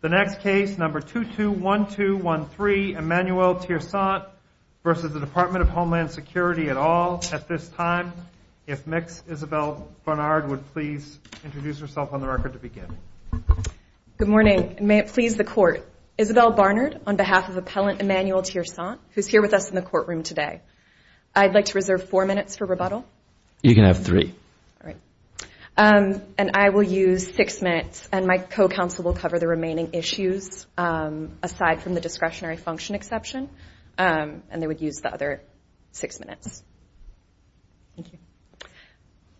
The next case, number 221213, Emmanuelle Tiersaint versus the Department of Homeland Security at all at this time. If Ms. Isabel Barnard would please introduce herself on the record to begin. Good morning, and may it please the court. Isabel Barnard, on behalf of appellant Emmanuelle Tiersaint, who's here with us in the courtroom today. I'd like to reserve four minutes for rebuttal. You can have three. All right. And I will use six minutes, and my co-counsel will cover the remaining issues aside from the discretionary function exception. And they would use the other six minutes. Thank you.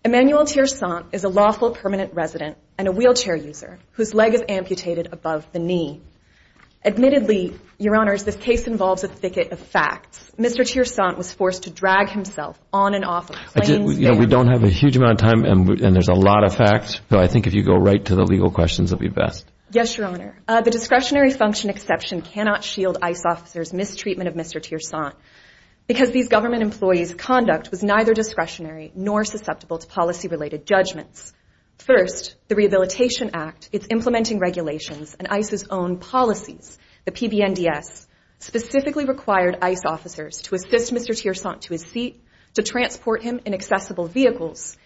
Emmanuelle Tiersaint is a lawful permanent resident and a wheelchair user whose leg is amputated above the knee. Admittedly, Your Honors, this case involves a thicket of facts. of a cleaning spade. We don't have a huge amount of time, and there's a lot of facts. So I think if you go right to the legal questions, it'll be best. Yes, Your Honor. The discretionary function exception cannot shield ICE officers' mistreatment of Mr. Tiersaint because these government employees' conduct was neither discretionary nor susceptible to policy-related judgments. First, the Rehabilitation Act, its implementing regulations, and ICE's own policies, the PBNDS, specifically required ICE officers to assist Mr. Tiersaint to his seat, to transport him in accessible vehicles,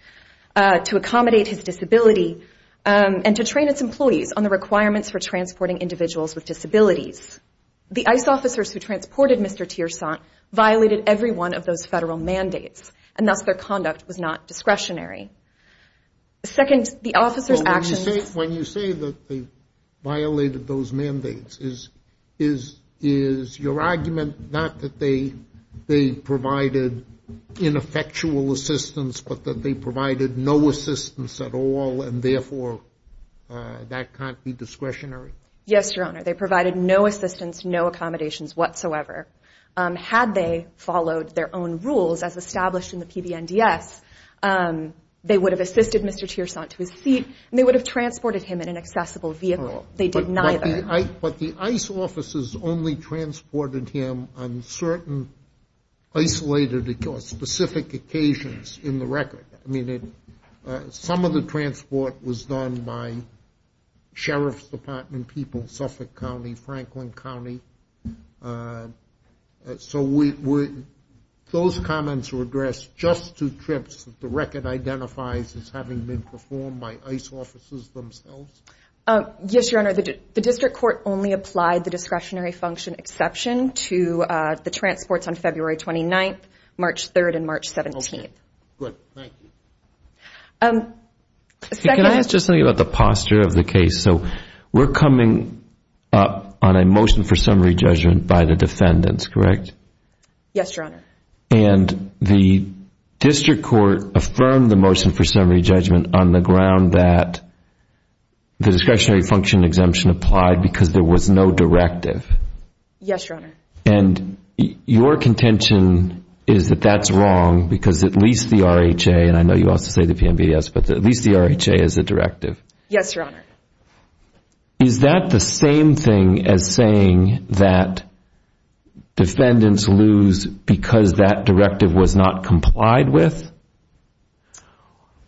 to accommodate his disability, and to train its employees on the requirements for transporting individuals with disabilities. The ICE officers who transported Mr. Tiersaint violated every one of those federal mandates, and thus their conduct was not discretionary. Second, the officers' actions... When you say that they violated those mandates, is your argument not that they provided ineffectual assistance, but that they provided no assistance at all, and therefore that can't be discretionary? Yes, Your Honor. They provided no assistance, no accommodations whatsoever. Had they followed their own rules as established in the PBNDS, they would have assisted Mr. Tiersaint to his seat, and they would have transported him in an accessible vehicle. They did neither. But the ICE officers only transported him on certain isolated or specific occasions in the record. Some of the transport was done by Sheriff's Department people, Suffolk County, Franklin County. So those comments were addressed just to trips that the record identifies as having been performed by ICE officers themselves? Yes, Your Honor. The district court only applied the discretionary function exception to the transports on February 29th, March 3rd, and March 17th. Good, thank you. Can I ask just something about the posture of the case? So we're coming up on a motion for summary judgment by the defendants, correct? Yes, Your Honor. And the district court affirmed the motion for summary judgment on the ground that the discretionary function exemption applied because there was no directive. Yes, Your Honor. And your contention is that that's wrong because at least the RHA, and I know you also say the PMBS, but at least the RHA has a directive. Yes, Your Honor. Is that the same thing as saying that defendants lose because that directive was not complied with?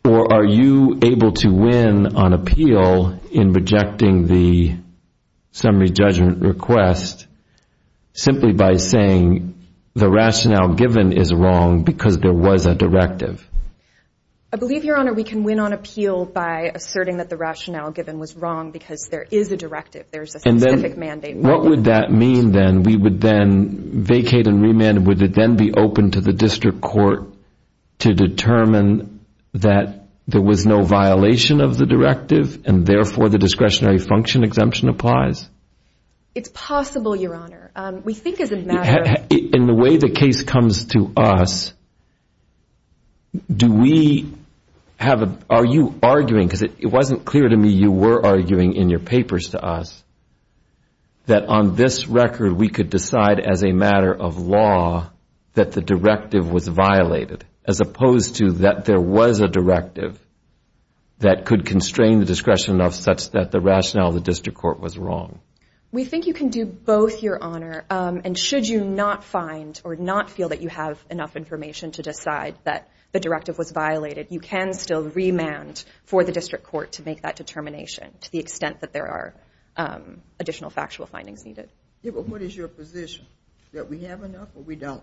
Or are you able to win on appeal in rejecting the summary judgment request simply by saying the rationale given is wrong because there was a directive? I believe, Your Honor, we can win on appeal by asserting that the rationale given was wrong because there is a directive. There's a specific mandate. What would that mean then? We would then vacate and remand, would it then be open to the district court to determine that there was no violation of the directive and therefore the discretionary function exemption applies? It's possible, Your Honor. We think as a matter of... In the way the case comes to us, do we have a, are you arguing, because it wasn't clear to me you were arguing in your papers to us, that on this record we could decide as a matter of law that the directive was violated as opposed to that there was a directive that could constrain the discretion enough such that the rationale of the district court was wrong? We think you can do both, Your Honor. And should you not find or not feel that you have enough information to decide that the directive was violated, you can still remand for the district court to make that determination to the extent that there are additional factual findings needed. What is your position? That we have enough or we don't?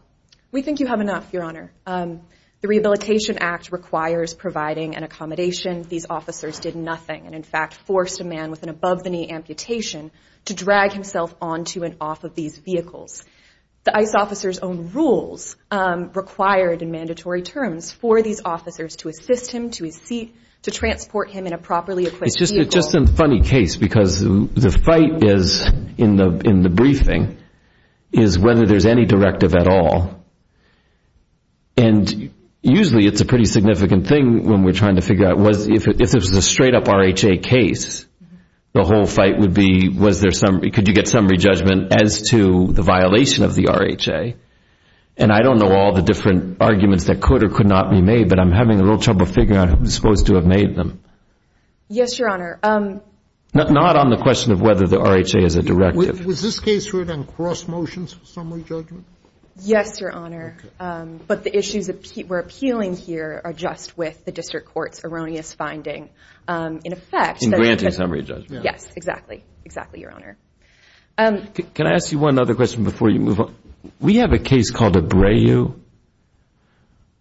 We think you have enough, Your Honor. The Rehabilitation Act requires providing an accommodation, these officers did nothing and in fact forced a man with an above-the-knee amputation to drag himself onto and off of these vehicles. The ICE officer's own rules required in mandatory terms for these officers to assist him to his seat, to transport him in a properly equipped vehicle. It's just a funny case because the fight is in the briefing is whether there's any directive at all. And usually it's a pretty significant thing when we're trying to figure out was if it was a straight up RHA case, the whole fight would be could you get summary judgment as to the violation of the RHA? And I don't know all the different arguments that could or could not be made, but I'm having a real trouble figuring out who's supposed to have made them. Yes, Your Honor. Not on the question of whether the RHA has a directive. Was this case written in cross motions summary judgment? Yes, Your Honor. But the issues that were appealing here are just with the district court's erroneous finding in effect. In granting summary judgment. Yes, exactly, exactly, Your Honor. Can I ask you one other question before you move on? We have a case called Abreu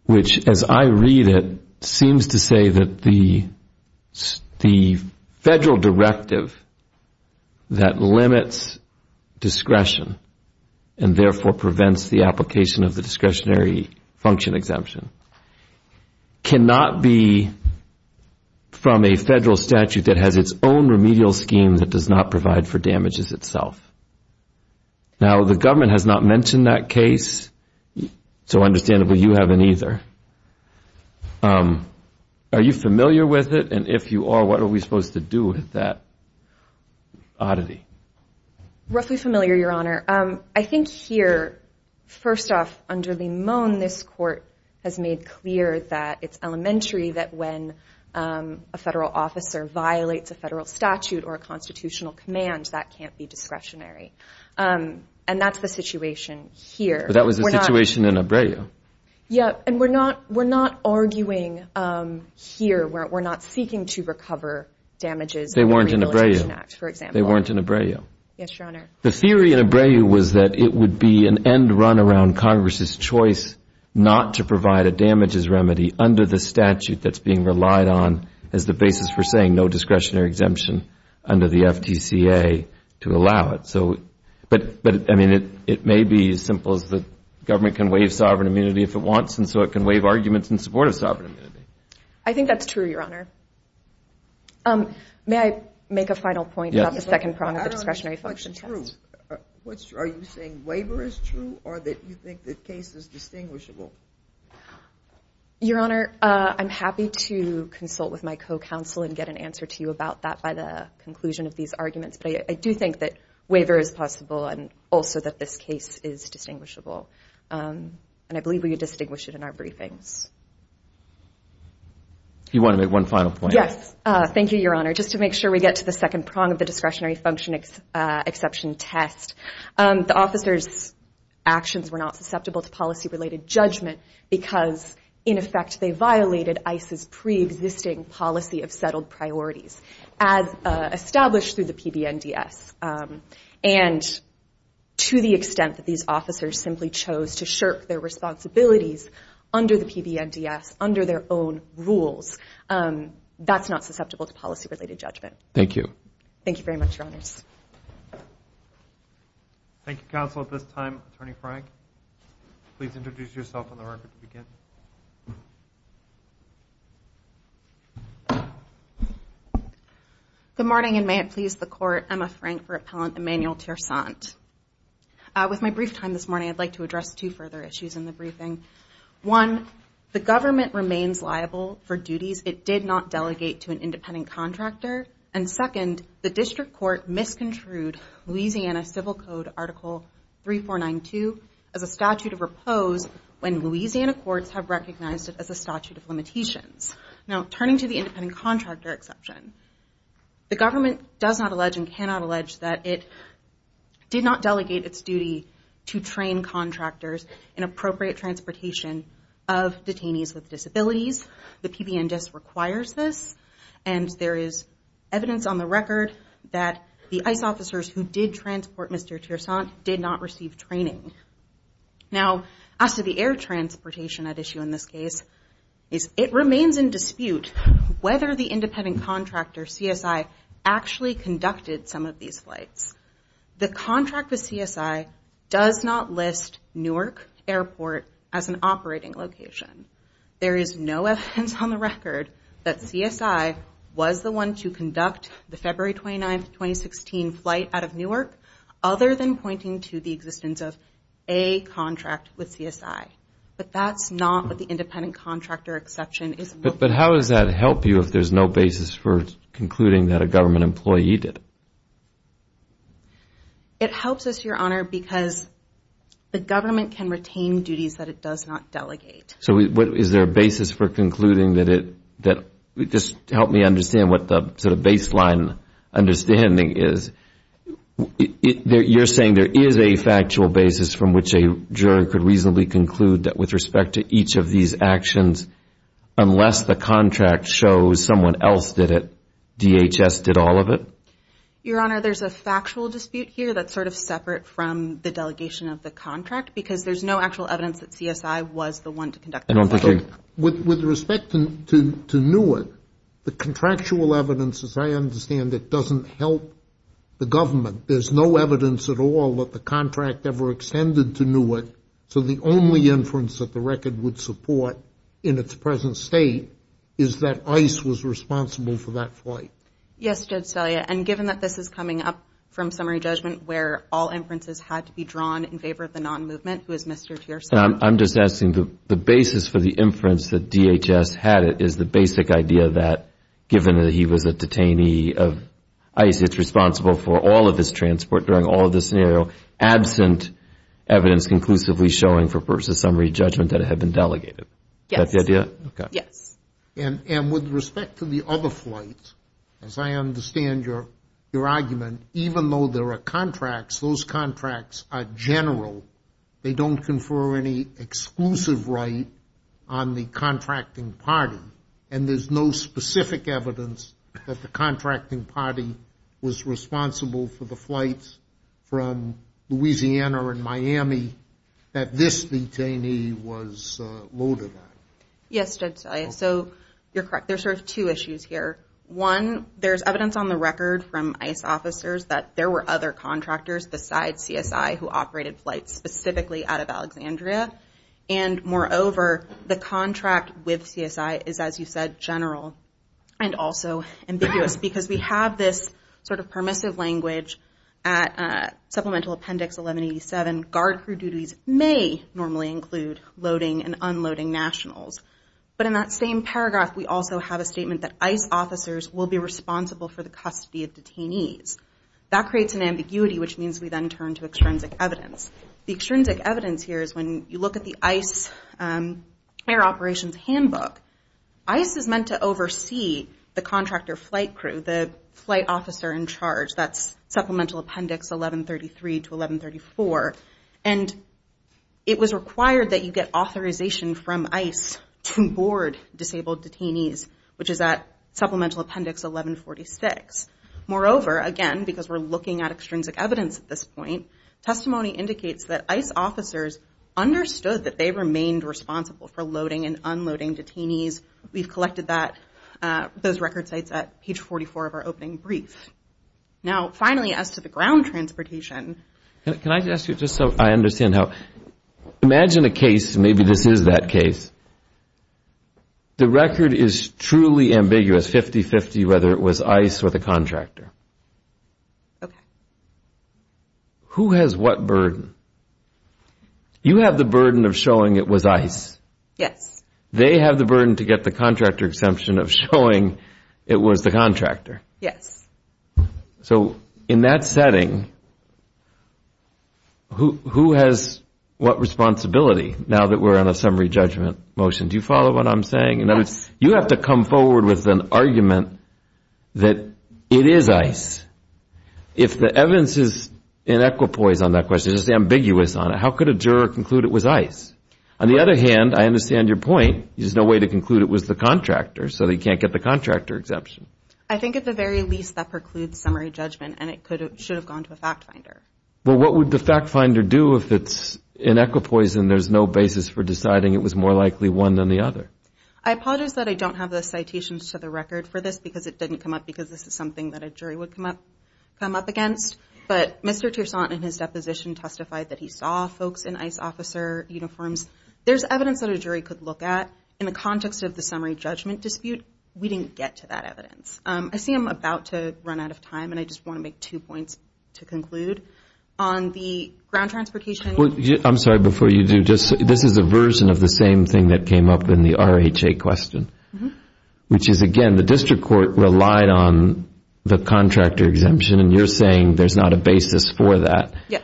which as I read it is a federal directive that limits discretion and therefore prevents the application of the discretionary function exemption. Cannot be from a federal statute that has its own remedial scheme that does not provide for damages itself. Now the government has not mentioned that case, so understandably you haven't either. Are you familiar with it? And if you are, what are we supposed to do with that oddity? Roughly familiar, Your Honor. I think here, first off, under Limon, this court has made clear that it's elementary that when a federal officer violates a federal statute or a constitutional command, that can't be discretionary. And that's the situation here. But that was the situation in Abreu. Yeah, and we're not arguing here. We're not seeking to recover damages under the Rehabilitation Act, for example. They weren't in Abreu. Yes, Your Honor. The theory in Abreu was that it would be an end run around Congress's choice not to provide a damages remedy under the statute that's being relied on as the basis for saying no discretionary exemption under the FTCA to allow it. So, but I mean, it may be as simple as the government can waive sovereign immunity if it wants and so it can waive arguments in support of sovereign immunity. I think that's true, Your Honor. May I make a final point about the second prong of the discretionary function test? What's true? Are you saying waiver is true or that you think the case is distinguishable? Your Honor, I'm happy to consult with my co-counsel and get an answer to you about that by the conclusion of these arguments. But I do think that waiver is possible and also that this case is distinguishable. And I believe we can distinguish it in our briefings. You want to make one final point? Yes, thank you, Your Honor. Just to make sure we get to the second prong of the discretionary function exception test. The officers' actions were not susceptible to policy-related judgment because, in effect, they violated ICE's pre-existing policy of settled priorities as established through the PBNDS. And to the extent that these officers simply chose to shirk their responsibilities under the PBNDS, under their own rules, that's not susceptible to policy-related judgment. Thank you. Thank you very much, Your Honors. Thank you, counsel. At this time, Attorney Frank, please introduce yourself on the record to begin. Good morning, and may it please the Court. Emma Frank for Appellant Emmanuel Tiersant. With my brief time this morning, I'd like to address two further issues in the briefing. One, the government remains liable for duties it did not delegate to an independent contractor. And second, the District Court misconstrued Louisiana Civil Code Article 3492 as a statute of repose when Louisiana courts have recognized it as a statute of limitations. Now, turning to the independent contractor exception, the government does not allege and cannot allege that it did not delegate its duty to train contractors in appropriate transportation of detainees with disabilities. The PBNDS requires this, and there is evidence on the record that the ICE officers who did transport Mr. Tiersant did not receive training. Now, as to the air transportation at issue in this case, it remains in dispute whether the independent contractor, CSI, actually conducted some of these flights. The contract with CSI does not list Newark Airport as an operating location. There is no evidence on the record that CSI was the one to conduct the February 29th, 2016 flight out of Newark, other than pointing to the existence of a contract with CSI. But that's not what the independent contractor exception is. But how does that help you if there's no basis for concluding that a government employee did it? It helps us, Your Honor, because the government can retain duties that it does not delegate. So is there a basis for concluding that it, that, just help me understand what the sort of baseline understanding is. You're saying there is a factual basis from which a jury could reasonably conclude that with respect to each of these actions, unless the contract shows someone else did it, DHS did all of it? Your Honor, there's a factual dispute here that's sort of separate from the delegation of the contract because there's no actual evidence that CSI was the one to conduct the flight. With respect to Newark, the contractual evidence, as I understand it, doesn't help the government. There's no evidence at all that the contract ever extended to Newark. So the only inference that the record would support in its present state is that ICE was responsible for that flight. Yes, Judge Svellia, and given that this is coming up from summary judgment where all inferences had to be drawn in favor of the non-movement, who is Mr. Tiersen? I'm just asking the basis for the inference that DHS had it is the basic idea that given that he was a detainee of ICE, it's responsible for all of his transport during all of this scenario, absent evidence conclusively showing for versus summary judgment that it had been delegated. Yes. Is that the idea? Okay. Yes. And with respect to the other flights, as I understand your argument, even though there are contracts, those contracts are general. They don't confer any exclusive right on the contracting party. And there's no specific evidence that the contracting party was responsible for the flights from Louisiana and Miami that this detainee was loaded on. Yes, Judge Svellia. So you're correct. There's sort of two issues here. One, there's evidence on the record from ICE officers that there were other contractors besides CSI who operated flights specifically out of Alexandria. And moreover, the contract with CSI is, as you said, general and also ambiguous because we have this sort of permissive language at Supplemental Appendix 1187. Guard crew duties may normally include loading and unloading nationals. But in that same paragraph, we also have a statement that ICE officers will be responsible for the custody of detainees. That creates an ambiguity, which means we then turn to extrinsic evidence. The extrinsic evidence here is when you look at the ICE Air Operations Handbook, ICE is meant to oversee the contractor flight crew, the flight officer in charge. That's Supplemental Appendix 1133 to 1134. And it was required that you get authorization from ICE to board disabled detainees, which is at Supplemental Appendix 1146. Moreover, again, because we're looking at extrinsic evidence at this point, testimony indicates that ICE officers understood that they remained responsible for loading and unloading detainees. We've collected those record sites at page 44 of our opening brief. Now, finally, as to the ground transportation. Can I ask you, just so I understand how, imagine a case, maybe this is that case. The record is truly ambiguous, 50-50, whether it was ICE or the contractor. Okay. Who has what burden? You have the burden of showing it was ICE. They have the burden to get the contractor exemption of showing it was the contractor. Yes. So, in that setting, who has what responsibility, now that we're on a summary judgment motion? Do you follow what I'm saying? You have to come forward with an argument that it is ICE. If the evidence is in equipoise on that question, just ambiguous on it, how could a juror conclude it was ICE? On the other hand, I understand your point. There's no way to conclude it was the contractor, so they can't get the contractor exemption. I think, at the very least, that precludes summary judgment, and it should have gone to a fact finder. Well, what would the fact finder do if it's in equipoise and there's no basis for deciding it was more likely one than the other? I apologize that I don't have the citations to the record for this because it didn't come up because this is something that a jury would come up against, but Mr. Tiersant, in his deposition, testified that he saw folks in ICE officer uniforms. There's evidence that a jury could look at. In the context of the summary judgment dispute, we didn't get to that evidence. I see I'm about to run out of time, and I just want to make two points to conclude. On the ground transportation... I'm sorry, before you do, this is a version of the same thing that came up in the RHA question, which is, again, the district court relied on the contractor exemption, and you're saying there's not a basis for that. Yes.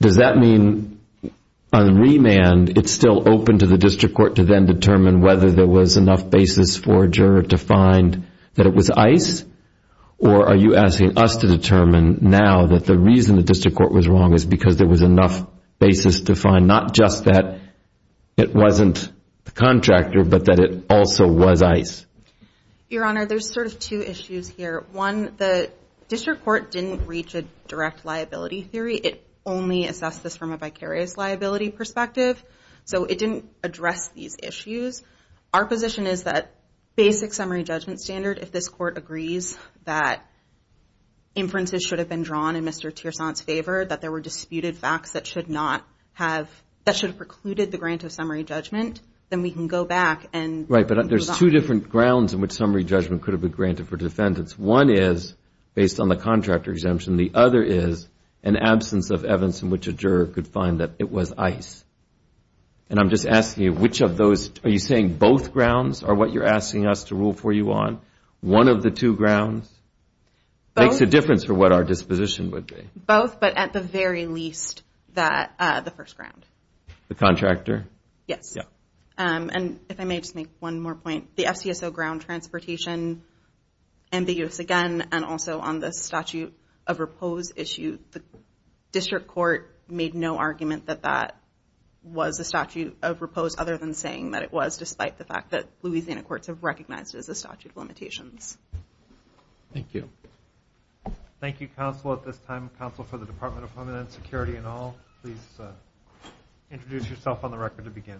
Does that mean, on remand, it's still open to the district court to then determine whether there was enough basis for a juror to find that it was ICE, or are you asking us to determine now that the reason the district court was wrong is because there was enough basis to find not just that it wasn't the contractor, but that it also was ICE? Your Honor, there's sort of two issues here. One, the district court didn't reach a direct liability theory. It only assessed this from a vicarious liability perspective, so it didn't address these issues. Our position is that basic summary judgment standard, if this court agrees that inferences should have been drawn in Mr. Tiersant's favor, that there were disputed facts that should not have, that should have precluded the grant of summary judgment, then we can go back and... Right, but there's two different grounds in which summary judgment could have been granted for defendants. One is based on the contractor exemption. The other is an absence of evidence in which a juror could find that it was ICE. And I'm just asking you, which of those, are you saying both grounds are what you're asking us to rule for you on? One of the two grounds? Makes a difference for what our disposition would be. Both, but at the very least, the first ground. The contractor? Yes. And if I may just make one more point, the FCSO ground transportation, and the U.S. again, and also on the statute of repose issue, the district court made no argument that that was a statute of repose other than saying that it was, despite the fact that Louisiana courts have recognized it as a statute of limitations. Thank you. Thank you, counsel, at this time, counsel for the Department of Homeland Security and all. Please introduce yourself on the record to begin.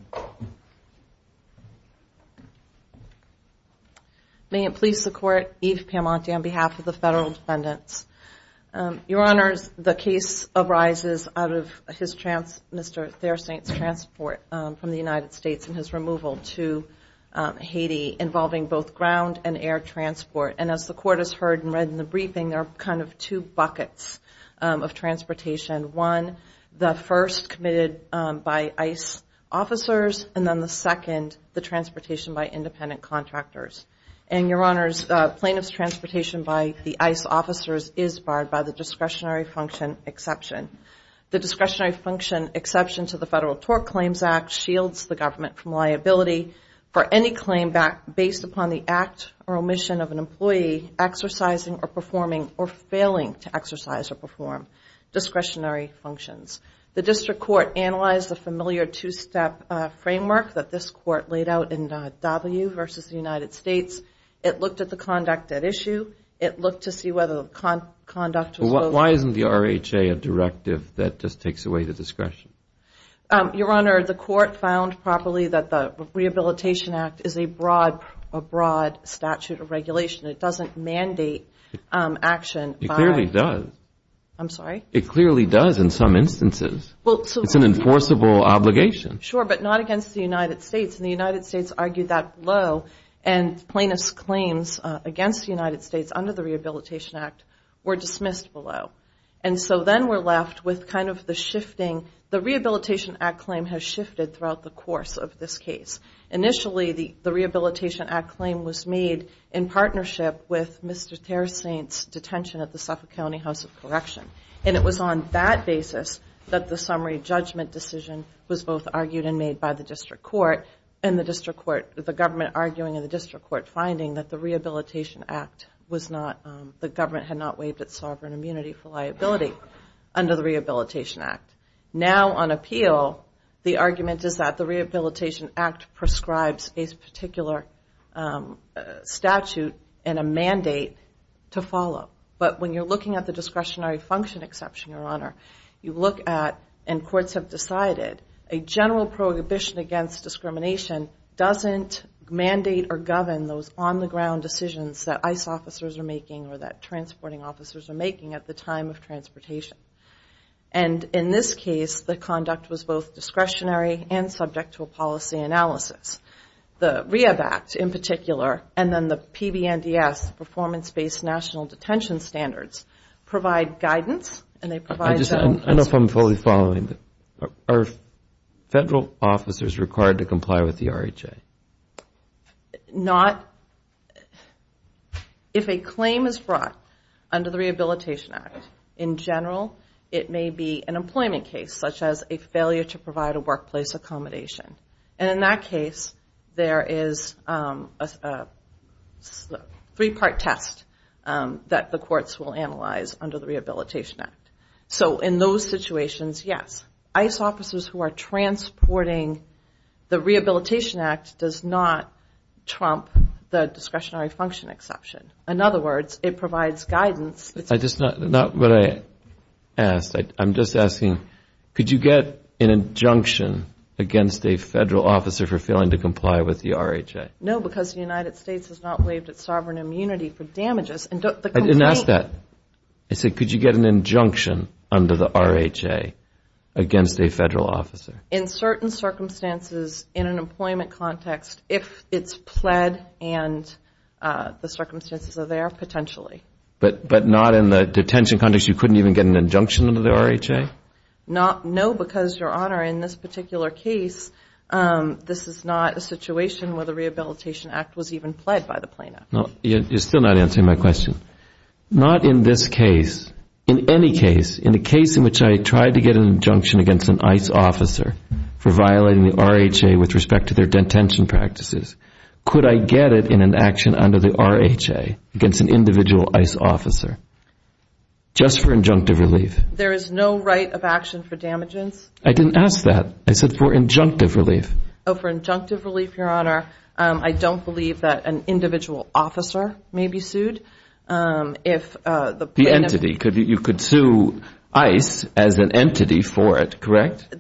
May it please the court, Eve Pamonte on behalf of the federal defendants. Your honors, the case arises out of his, Mr. Theresaint's transport from the United States and his removal to Haiti, involving both ground and air transport. And as the court has heard and read in the briefing, there are kind of two buckets of transportation. One, the first committed by ICE officers, and then the second, the transportation by independent contractors. And your honors, plaintiff's transportation by the ICE officers is barred by the discretionary function exception. The discretionary function exception to the Federal Tort Claims Act shields the government from liability for any claim based upon the act or omission of an employee exercising or performing or failing to exercise or perform discretionary functions. The district court analyzed the familiar two-step framework that this court laid out in W versus the United States. It looked at the conduct at issue. It looked to see whether the conduct was... That just takes away the discretion. Your honor, the court found properly that the Rehabilitation Act is a broad statute of regulation. It doesn't mandate action. It clearly does. I'm sorry? It clearly does in some instances. It's an enforceable obligation. Sure, but not against the United States. And the United States argued that low and plaintiff's claims against the United States under the Rehabilitation Act were dismissed below. And so then we're left with kind of the shifting. The Rehabilitation Act claim has shifted throughout the course of this case. Initially, the Rehabilitation Act claim was made in partnership with Mr. Terrasaint's detention at the Suffolk County House of Correction. And it was on that basis that the summary judgment decision was both argued and made by the district court and the district court, the government arguing in the district court finding that the Rehabilitation Act was not, the government had not waived its sovereign immunity for liability under the Rehabilitation Act. Now on appeal, the argument is that the Rehabilitation Act prescribes a particular statute and a mandate to follow. But when you're looking at the discretionary function exception, Your Honor, you look at, and courts have decided, a general prohibition against discrimination doesn't mandate or govern those on-the-ground decisions that ICE officers are making or that transporting officers are making at the time of transportation. And in this case, the conduct was both discretionary and subject to a policy analysis. The REHAB Act, in particular, and then the PBNDS, Performance-Based National Detention Standards, provide guidance and they provide... I know if I'm fully following, are federal officers required to comply with the RHA? Okay. If a claim is brought under the Rehabilitation Act, in general, it may be an employment case, such as a failure to provide a workplace accommodation. And in that case, there is a three-part test that the courts will analyze under the Rehabilitation Act. So in those situations, yes, ICE officers who are transporting the Rehabilitation Act does not trump the discretionary function exception. In other words, it provides guidance. Not what I asked, I'm just asking, could you get an injunction against a federal officer for failing to comply with the RHA? No, because the United States has not waived its sovereign immunity for damages. I didn't ask that. I said, could you get an injunction under the RHA against a federal officer? In certain circumstances, in an employment context, if it's pled and the circumstances are there, potentially. But not in the detention context, you couldn't even get an injunction under the RHA? No, because, Your Honor, in this particular case, this is not a situation where the Rehabilitation Act was even pled by the plaintiff. You're still not answering my question. Not in this case. In any case, in the case in which I tried to get an injunction against an ICE officer for violating the RHA with respect to their detention practices, could I get it in an action under the RHA against an individual ICE officer? Just for injunctive relief. There is no right of action for damages. I didn't ask that. I said, for injunctive relief. Oh, for injunctive relief, Your Honor. I don't believe that an individual officer may be sued. The entity, you could sue ICE as an entity for it, correct?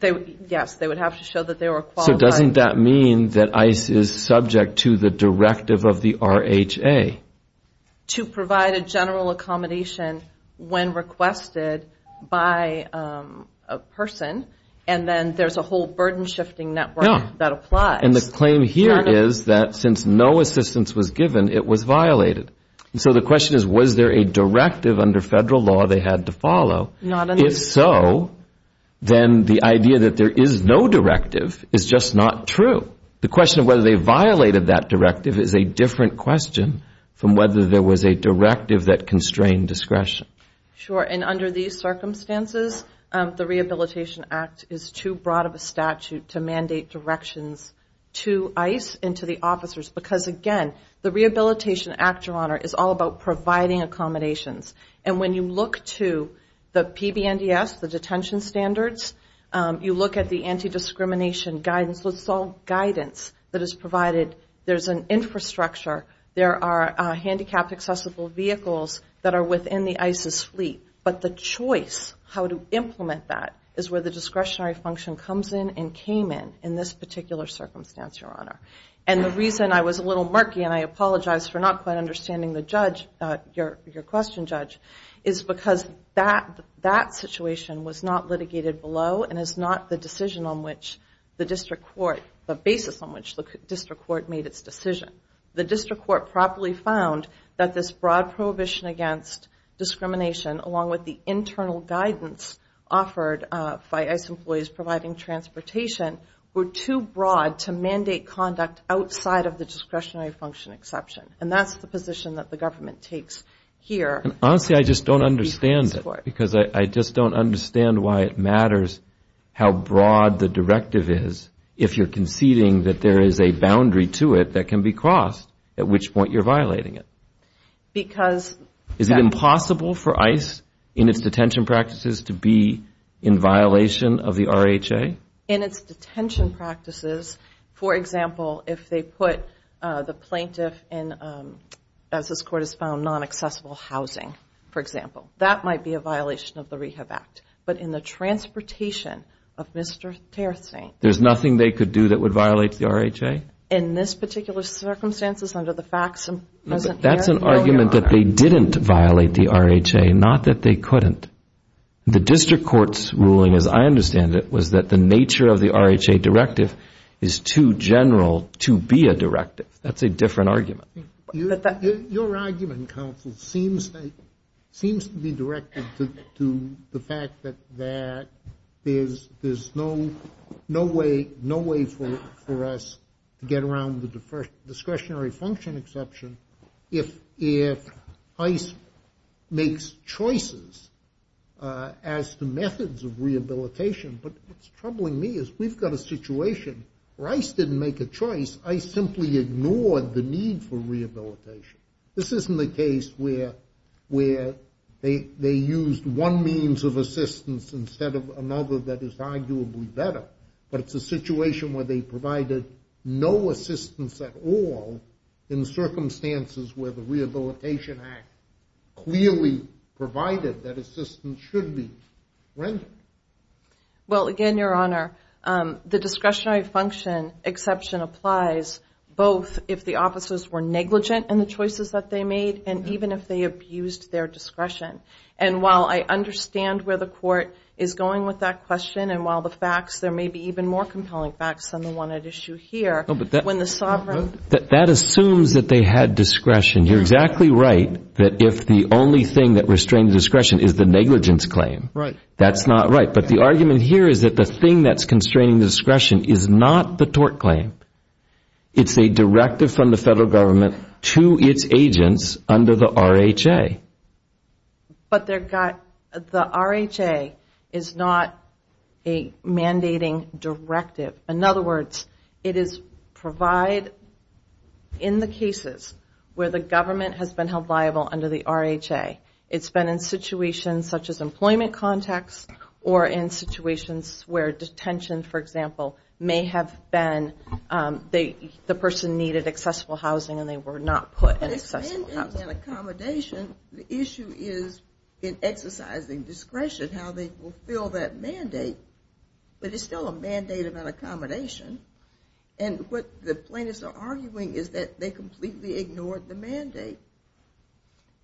Yes, they would have to show that they were qualified. So doesn't that mean that ICE is subject to the directive of the RHA? To provide a general accommodation when requested by a person, and then there's a whole burden-shifting network that applies. And the claim here is that, since no assistance was given, it was violated. And so the question is, was there a directive under federal law they had to follow? Not in this case. If so, then the idea that there is no directive is just not true. The question of whether they violated that directive is a different question from whether there was a directive that constrained discretion. Sure, and under these circumstances, the Rehabilitation Act is too broad of a statute to mandate directions to ICE and to the officers. Because again, the Rehabilitation Act, Your Honor, is all about providing accommodations. And when you look to the PBNDS, the detention standards, you look at the anti-discrimination guidance. That's all guidance that is provided. There's an infrastructure. There are handicapped accessible vehicles that are within the ICE's fleet. But the choice, how to implement that, is where the discretionary function comes in and came in in this particular circumstance, Your Honor. And the reason I was a little murky, and I apologize for not quite understanding the judge, your question, Judge, is because that situation was not litigated below and is not the decision on which the district court, the basis on which the district court made its decision. The district court properly found that this broad prohibition against discrimination, along with the internal guidance offered by ICE employees providing transportation, were too broad to mandate conduct outside of the discretionary function exception. And that's the position that the government takes here. Honestly, I just don't understand it. Because I just don't understand why it matters how broad the directive is if you're conceding that there is a boundary to it that can be crossed, at which point you're violating it. Because that's Is it impossible for ICE, in its detention practices, to be in violation of the RHA? In its detention practices, for example, if they put the plaintiff in, as this court has found, non-accessible housing, for example, that might be a violation of the Rehab Act. But in the transportation of Mr. Territh St. There's nothing they could do that would violate the RHA? In this particular circumstances, under the facts present here? That's an argument that they didn't violate the RHA, not that they couldn't. The district court's ruling, as I understand it, was that the nature of the RHA directive is too general to be a directive. That's a different argument. Your argument, counsel, seems to be directed to the fact that there's no way for us to get around the discretionary function exception if ICE makes choices as to methods of rehabilitation. But what's troubling me is we've got a situation. ICE didn't make a choice. ICE simply ignored the need for rehabilitation. This isn't the case where they used one means of assistance instead of another that is arguably better. But it's a situation where they provided no assistance at all in circumstances where the Rehabilitation Act clearly provided that assistance should be rendered. Well, again, Your Honor, the discretionary function exception applies both if the officers were negligent in the choices that they made and even if they abused their discretion. And while I understand where the court is going with that question, and while the facts, there may be even more compelling facts than the one at issue here, when the sovereign. That assumes that they had discretion. You're exactly right that if the only thing that restrains discretion is the negligence claim. That's not right. But the argument here is that the thing that's constraining discretion is not the tort claim. It's a directive from the federal government to its agents under the RHA. But the RHA is not a mandating directive. In other words, it is provide in the cases where the government has been held liable under the RHA. It's been in situations such as employment contacts or in situations where detention, for example, may have been the person needed accessible housing and they were not put in accessible housing. In accommodation, the issue is in exercising discretion, how they fulfill that mandate. But it's still a mandate of an accommodation. And what the plaintiffs are arguing is that they completely ignored the mandate.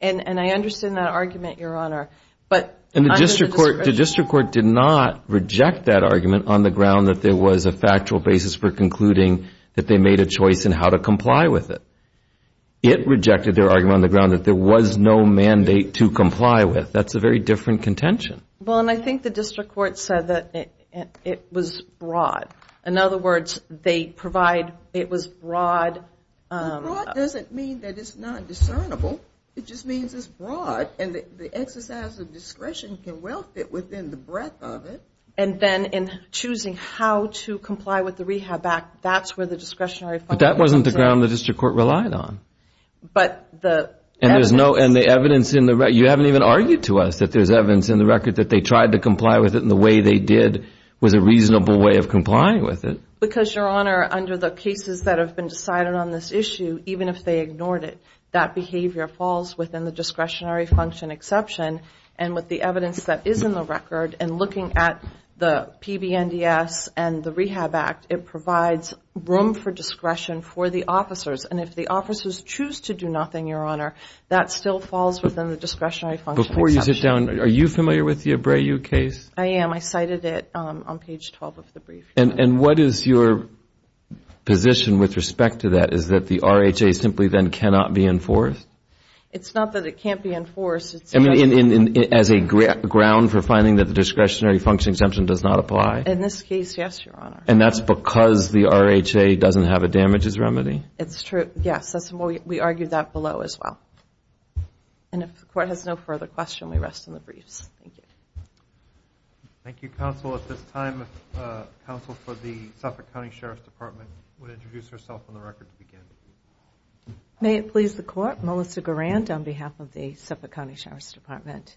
And I understand that argument, Your Honor. But under the discretion. The district court did not reject that argument on the ground that there was a factual basis for concluding that they made a choice in how to comply with it. It rejected their argument on the ground that there was no mandate to comply with. That's a very different contention. Well, and I think the district court said that it was broad. In other words, they provide it was broad. Broad doesn't mean that it's not discernible. It just means it's broad. And the exercise of discretion can well fit within the breadth of it. And then in choosing how to comply with the RHA back, that's where the discretionary function comes in. But that wasn't the ground the district court relied on. But the evidence. And the evidence in the record. You haven't even argued to us that there's evidence in the record that they tried to comply with it and the way they did was a reasonable way of complying with it. Because, Your Honor, under the cases that have been decided on this issue, even if they ignored it, that behavior falls within the discretionary function exception. And with the evidence that is in the record and looking at the PBNDS and the Rehab Act, it provides room for discretion for the officers. And if the officers choose to do nothing, Your Honor, that still falls within the discretionary function exception. Before you sit down, are you familiar with the Abreu case? I am. I cited it on page 12 of the brief. And what is your position with respect to that? Is that the RHA simply then cannot be enforced? It's not that it can't be enforced. As a ground for finding that the discretionary function exemption does not apply? In this case, yes, Your Honor. And that's because the RHA doesn't have a damages remedy? It's true. Yes. We argued that below as well. And if the court has no further question, we rest in the briefs. Thank you. Thank you, counsel. At this time, counsel for the Suffolk County Sheriff's Department would introduce herself on the record to begin. May it please the court, Melissa Garand on behalf of the Suffolk County Sheriff's Department.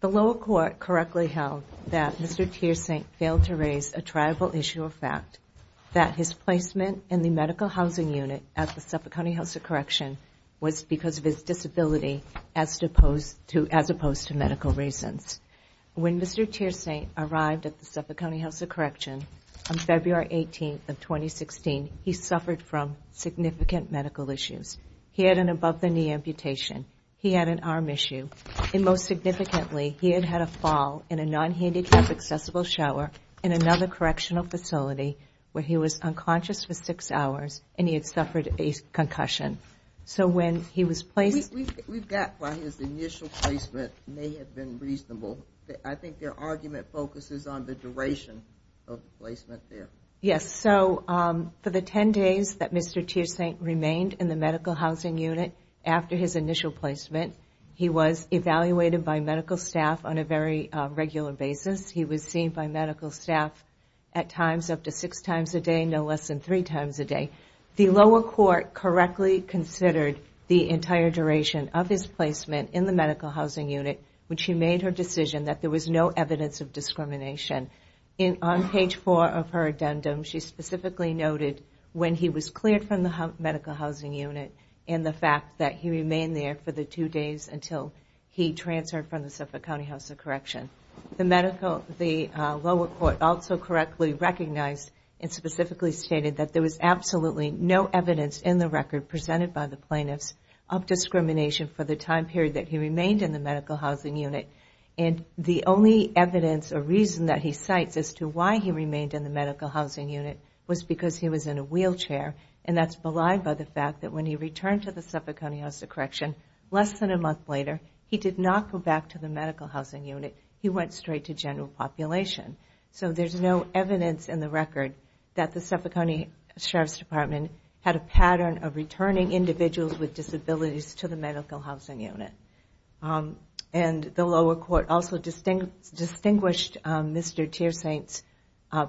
The lower court correctly held that Mr. Teersink failed to raise a tribal issue of fact that his placement in the medical housing unit at the Suffolk County House of Correction was because of his disability as opposed to medical reasons. When Mr. Teersink arrived at the Suffolk County House of Correction on February 18th of 2016, he suffered from significant medical issues. He had an above the knee amputation. He had an arm issue. And most significantly, he had had a fall in a non-handicap accessible shower in another correctional facility where he was unconscious for six hours and he had suffered a concussion. So when he was placed- We've got why his initial placement may have been reasonable. I think their argument focuses on the duration of the placement there. Yes, so for the 10 days that Mr. Teersink remained in the medical housing unit after his initial placement, he was evaluated by medical staff on a very regular basis. He was seen by medical staff at times up to six times a day, no less than three times a day. The lower court correctly considered the entire duration of his placement in the medical housing unit when she made her decision that there was no evidence of discrimination. And on page four of her addendum, she specifically noted when he was cleared from the medical housing unit and the fact that he remained there for the two days until he transferred from the Suffolk County House of Correction. The medical- The lower court also correctly recognized and specifically stated that there was absolutely no evidence in the record presented by the plaintiffs of discrimination for the time period that he remained in the medical housing unit. And the only evidence or reason that he cites as to why he remained in the medical housing unit was because he was in a wheelchair. And that's belied by the fact that when he returned to the Suffolk County House of Correction less than a month later, he did not go back to the medical housing unit. He went straight to general population. So there's no evidence in the record that the Suffolk County Sheriff's Department had a pattern of returning individuals with disabilities to the medical housing unit. And the lower court also distinguished Mr. Teersaint's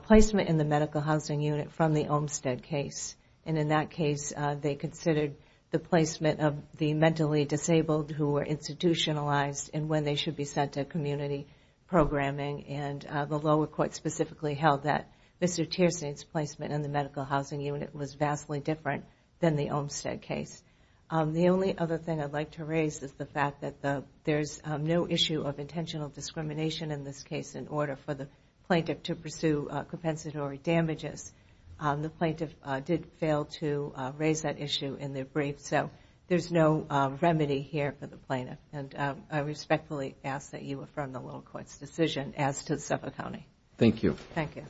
placement in the medical housing unit from the Olmstead case. And in that case, they considered the placement of the mentally disabled who were institutionalized and when they should be sent to community programming. And the lower court specifically held that Mr. Teersaint's placement in the medical housing unit was vastly different than the Olmstead case. The only other thing I'd like to raise is the fact that there's no issue of intentional discrimination in this case in order for the plaintiff to pursue compensatory damages. The plaintiff did fail to raise that issue in their brief. So there's no remedy here for the plaintiff. And I respectfully ask that you affirm the lower court's decision as to the Suffolk County. Thank you. Thank you.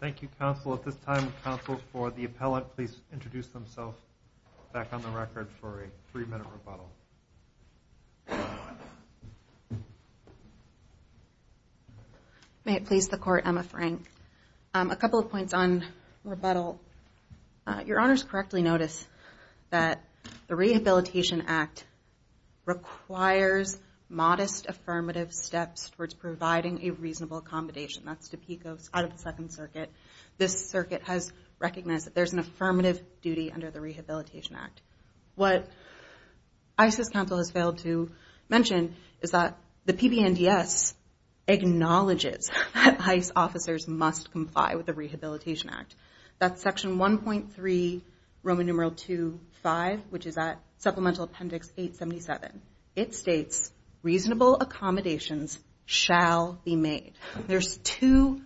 Thank you, counsel. At this time, counsel for the appellant, please introduce themselves back on the record for a three-minute rebuttal. May it please the court, Emma Frank. A couple of points on rebuttal. Your honors correctly notice that the Rehabilitation Act requires modest affirmative steps towards providing a reasonable accommodation. That's Topekos out of the Second Circuit. This circuit has recognized that there's an affirmative duty under the Rehabilitation Act. What ICE's counsel has failed to mention is that the PBNDS acknowledges that ICE officers must comply with the Rehabilitation Act. That's section 1.3 Roman numeral 2.5, which is at Supplemental Appendix 877. It states, reasonable accommodations shall be made. There's two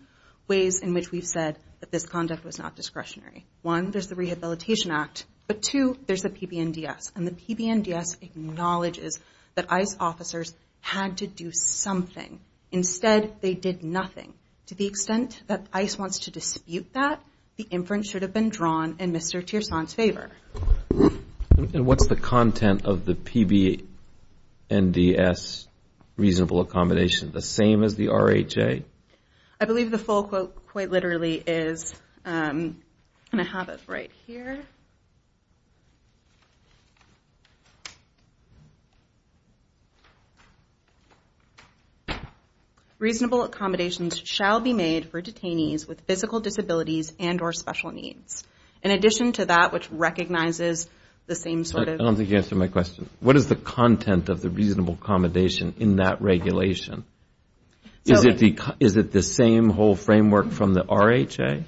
ways in which we've said that this conduct was not discretionary. One, there's the Rehabilitation Act. But two, there's the PBNDS. And the PBNDS acknowledges that ICE officers had to do something. Instead, they did nothing. To the extent that ICE wants to dispute that, the inference should have been drawn in Mr. Tierson's favor. And what's the content of the PBNDS reasonable accommodation? The same as the RHA? I believe the full quote, quite literally, is going to have it right here. Reasonable accommodations shall be made for detainees with physical disabilities and or special needs. In addition to that, which recognizes the same sort of- I don't think you answered my question. What is the content of the reasonable accommodation in that regulation? Is it the same whole framework from the RHA?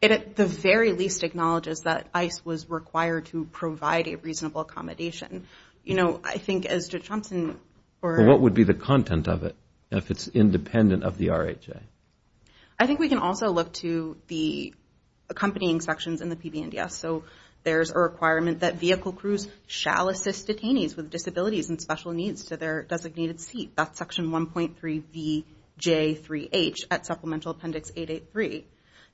The very least acknowledges that ICE was required to provide a reasonable accommodation. I think as Judge Thompson- What would be the content of it if it's independent of the RHA? I think we can also look to the accompanying sections in the PBNDS. So there's a requirement that vehicle crews shall assist detainees with disabilities and special needs to their designated seat. That's section 1.3BJ3H at supplemental appendix 883.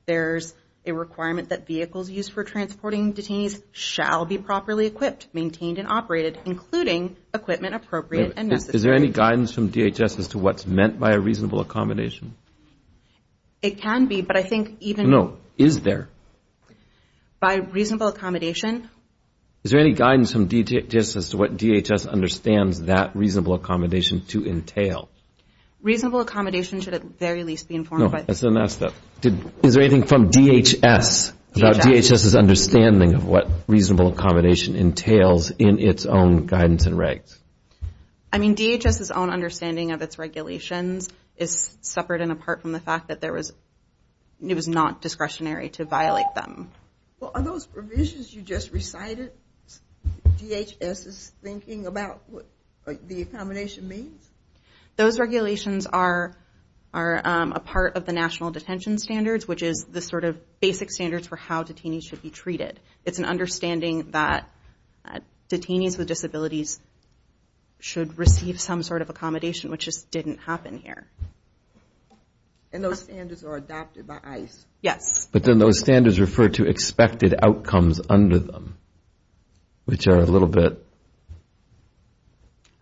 There's a requirement that vehicles used for transporting detainees shall be properly equipped, maintained, and operated, including equipment appropriate and necessary. Is there any guidance from DHS as to what's reasonable accommodation? It can be, but I think even- No. Is there? By reasonable accommodation? Is there any guidance from DHS as to what DHS understands that reasonable accommodation to entail? Reasonable accommodation should at very least be informed by- No, that's the next step. Is there anything from DHS about DHS's understanding of what reasonable accommodation entails in its own guidance and regs? I mean, DHS's own understanding of its regulations is separate and apart from the fact that it was not discretionary to violate them. Well, are those provisions you just recited DHS's thinking about what the accommodation means? Those regulations are a part of the National Detention Standards, which is the sort of basic standards for how detainees should be treated. It's an understanding that detainees with disabilities should receive some sort of accommodation, which just didn't happen here. And those standards are adopted by ICE? Yes. But then those standards refer to expected outcomes under them, which are a little bit-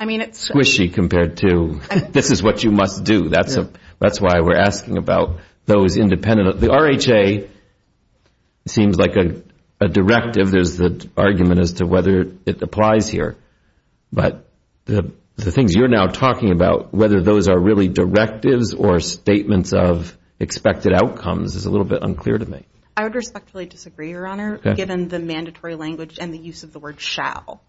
I mean, it's- Squishy compared to, this is what you must do. That's why we're asking about those independent. The RHA seems like a directive. There's the argument as to whether it applies here. But the things you're now talking about, whether those are really directives or statements of expected outcomes, is a little bit unclear to me. I would respectfully disagree, Your Honor, given the mandatory language and the use of the word shall.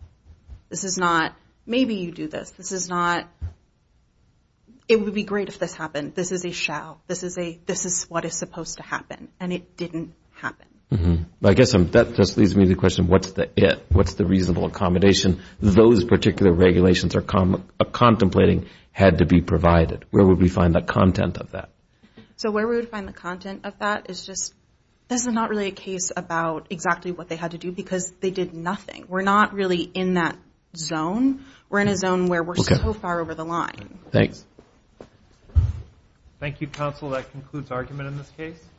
This is not, maybe you do this. This is not, it would be great if this happened. This is a shall. This is what is supposed to happen. And it didn't happen. I guess that just leaves me the question, what's the it? What's the reasonable accommodation? Those particular regulations are contemplating had to be provided. Where would we find the content of that? So where we would find the content of that is just, this is not really a case about exactly what they had to do because they did nothing. We're not really in that zone. We're in a zone where we're so far over the line. Thanks. Thank you, counsel. That concludes argument in this case.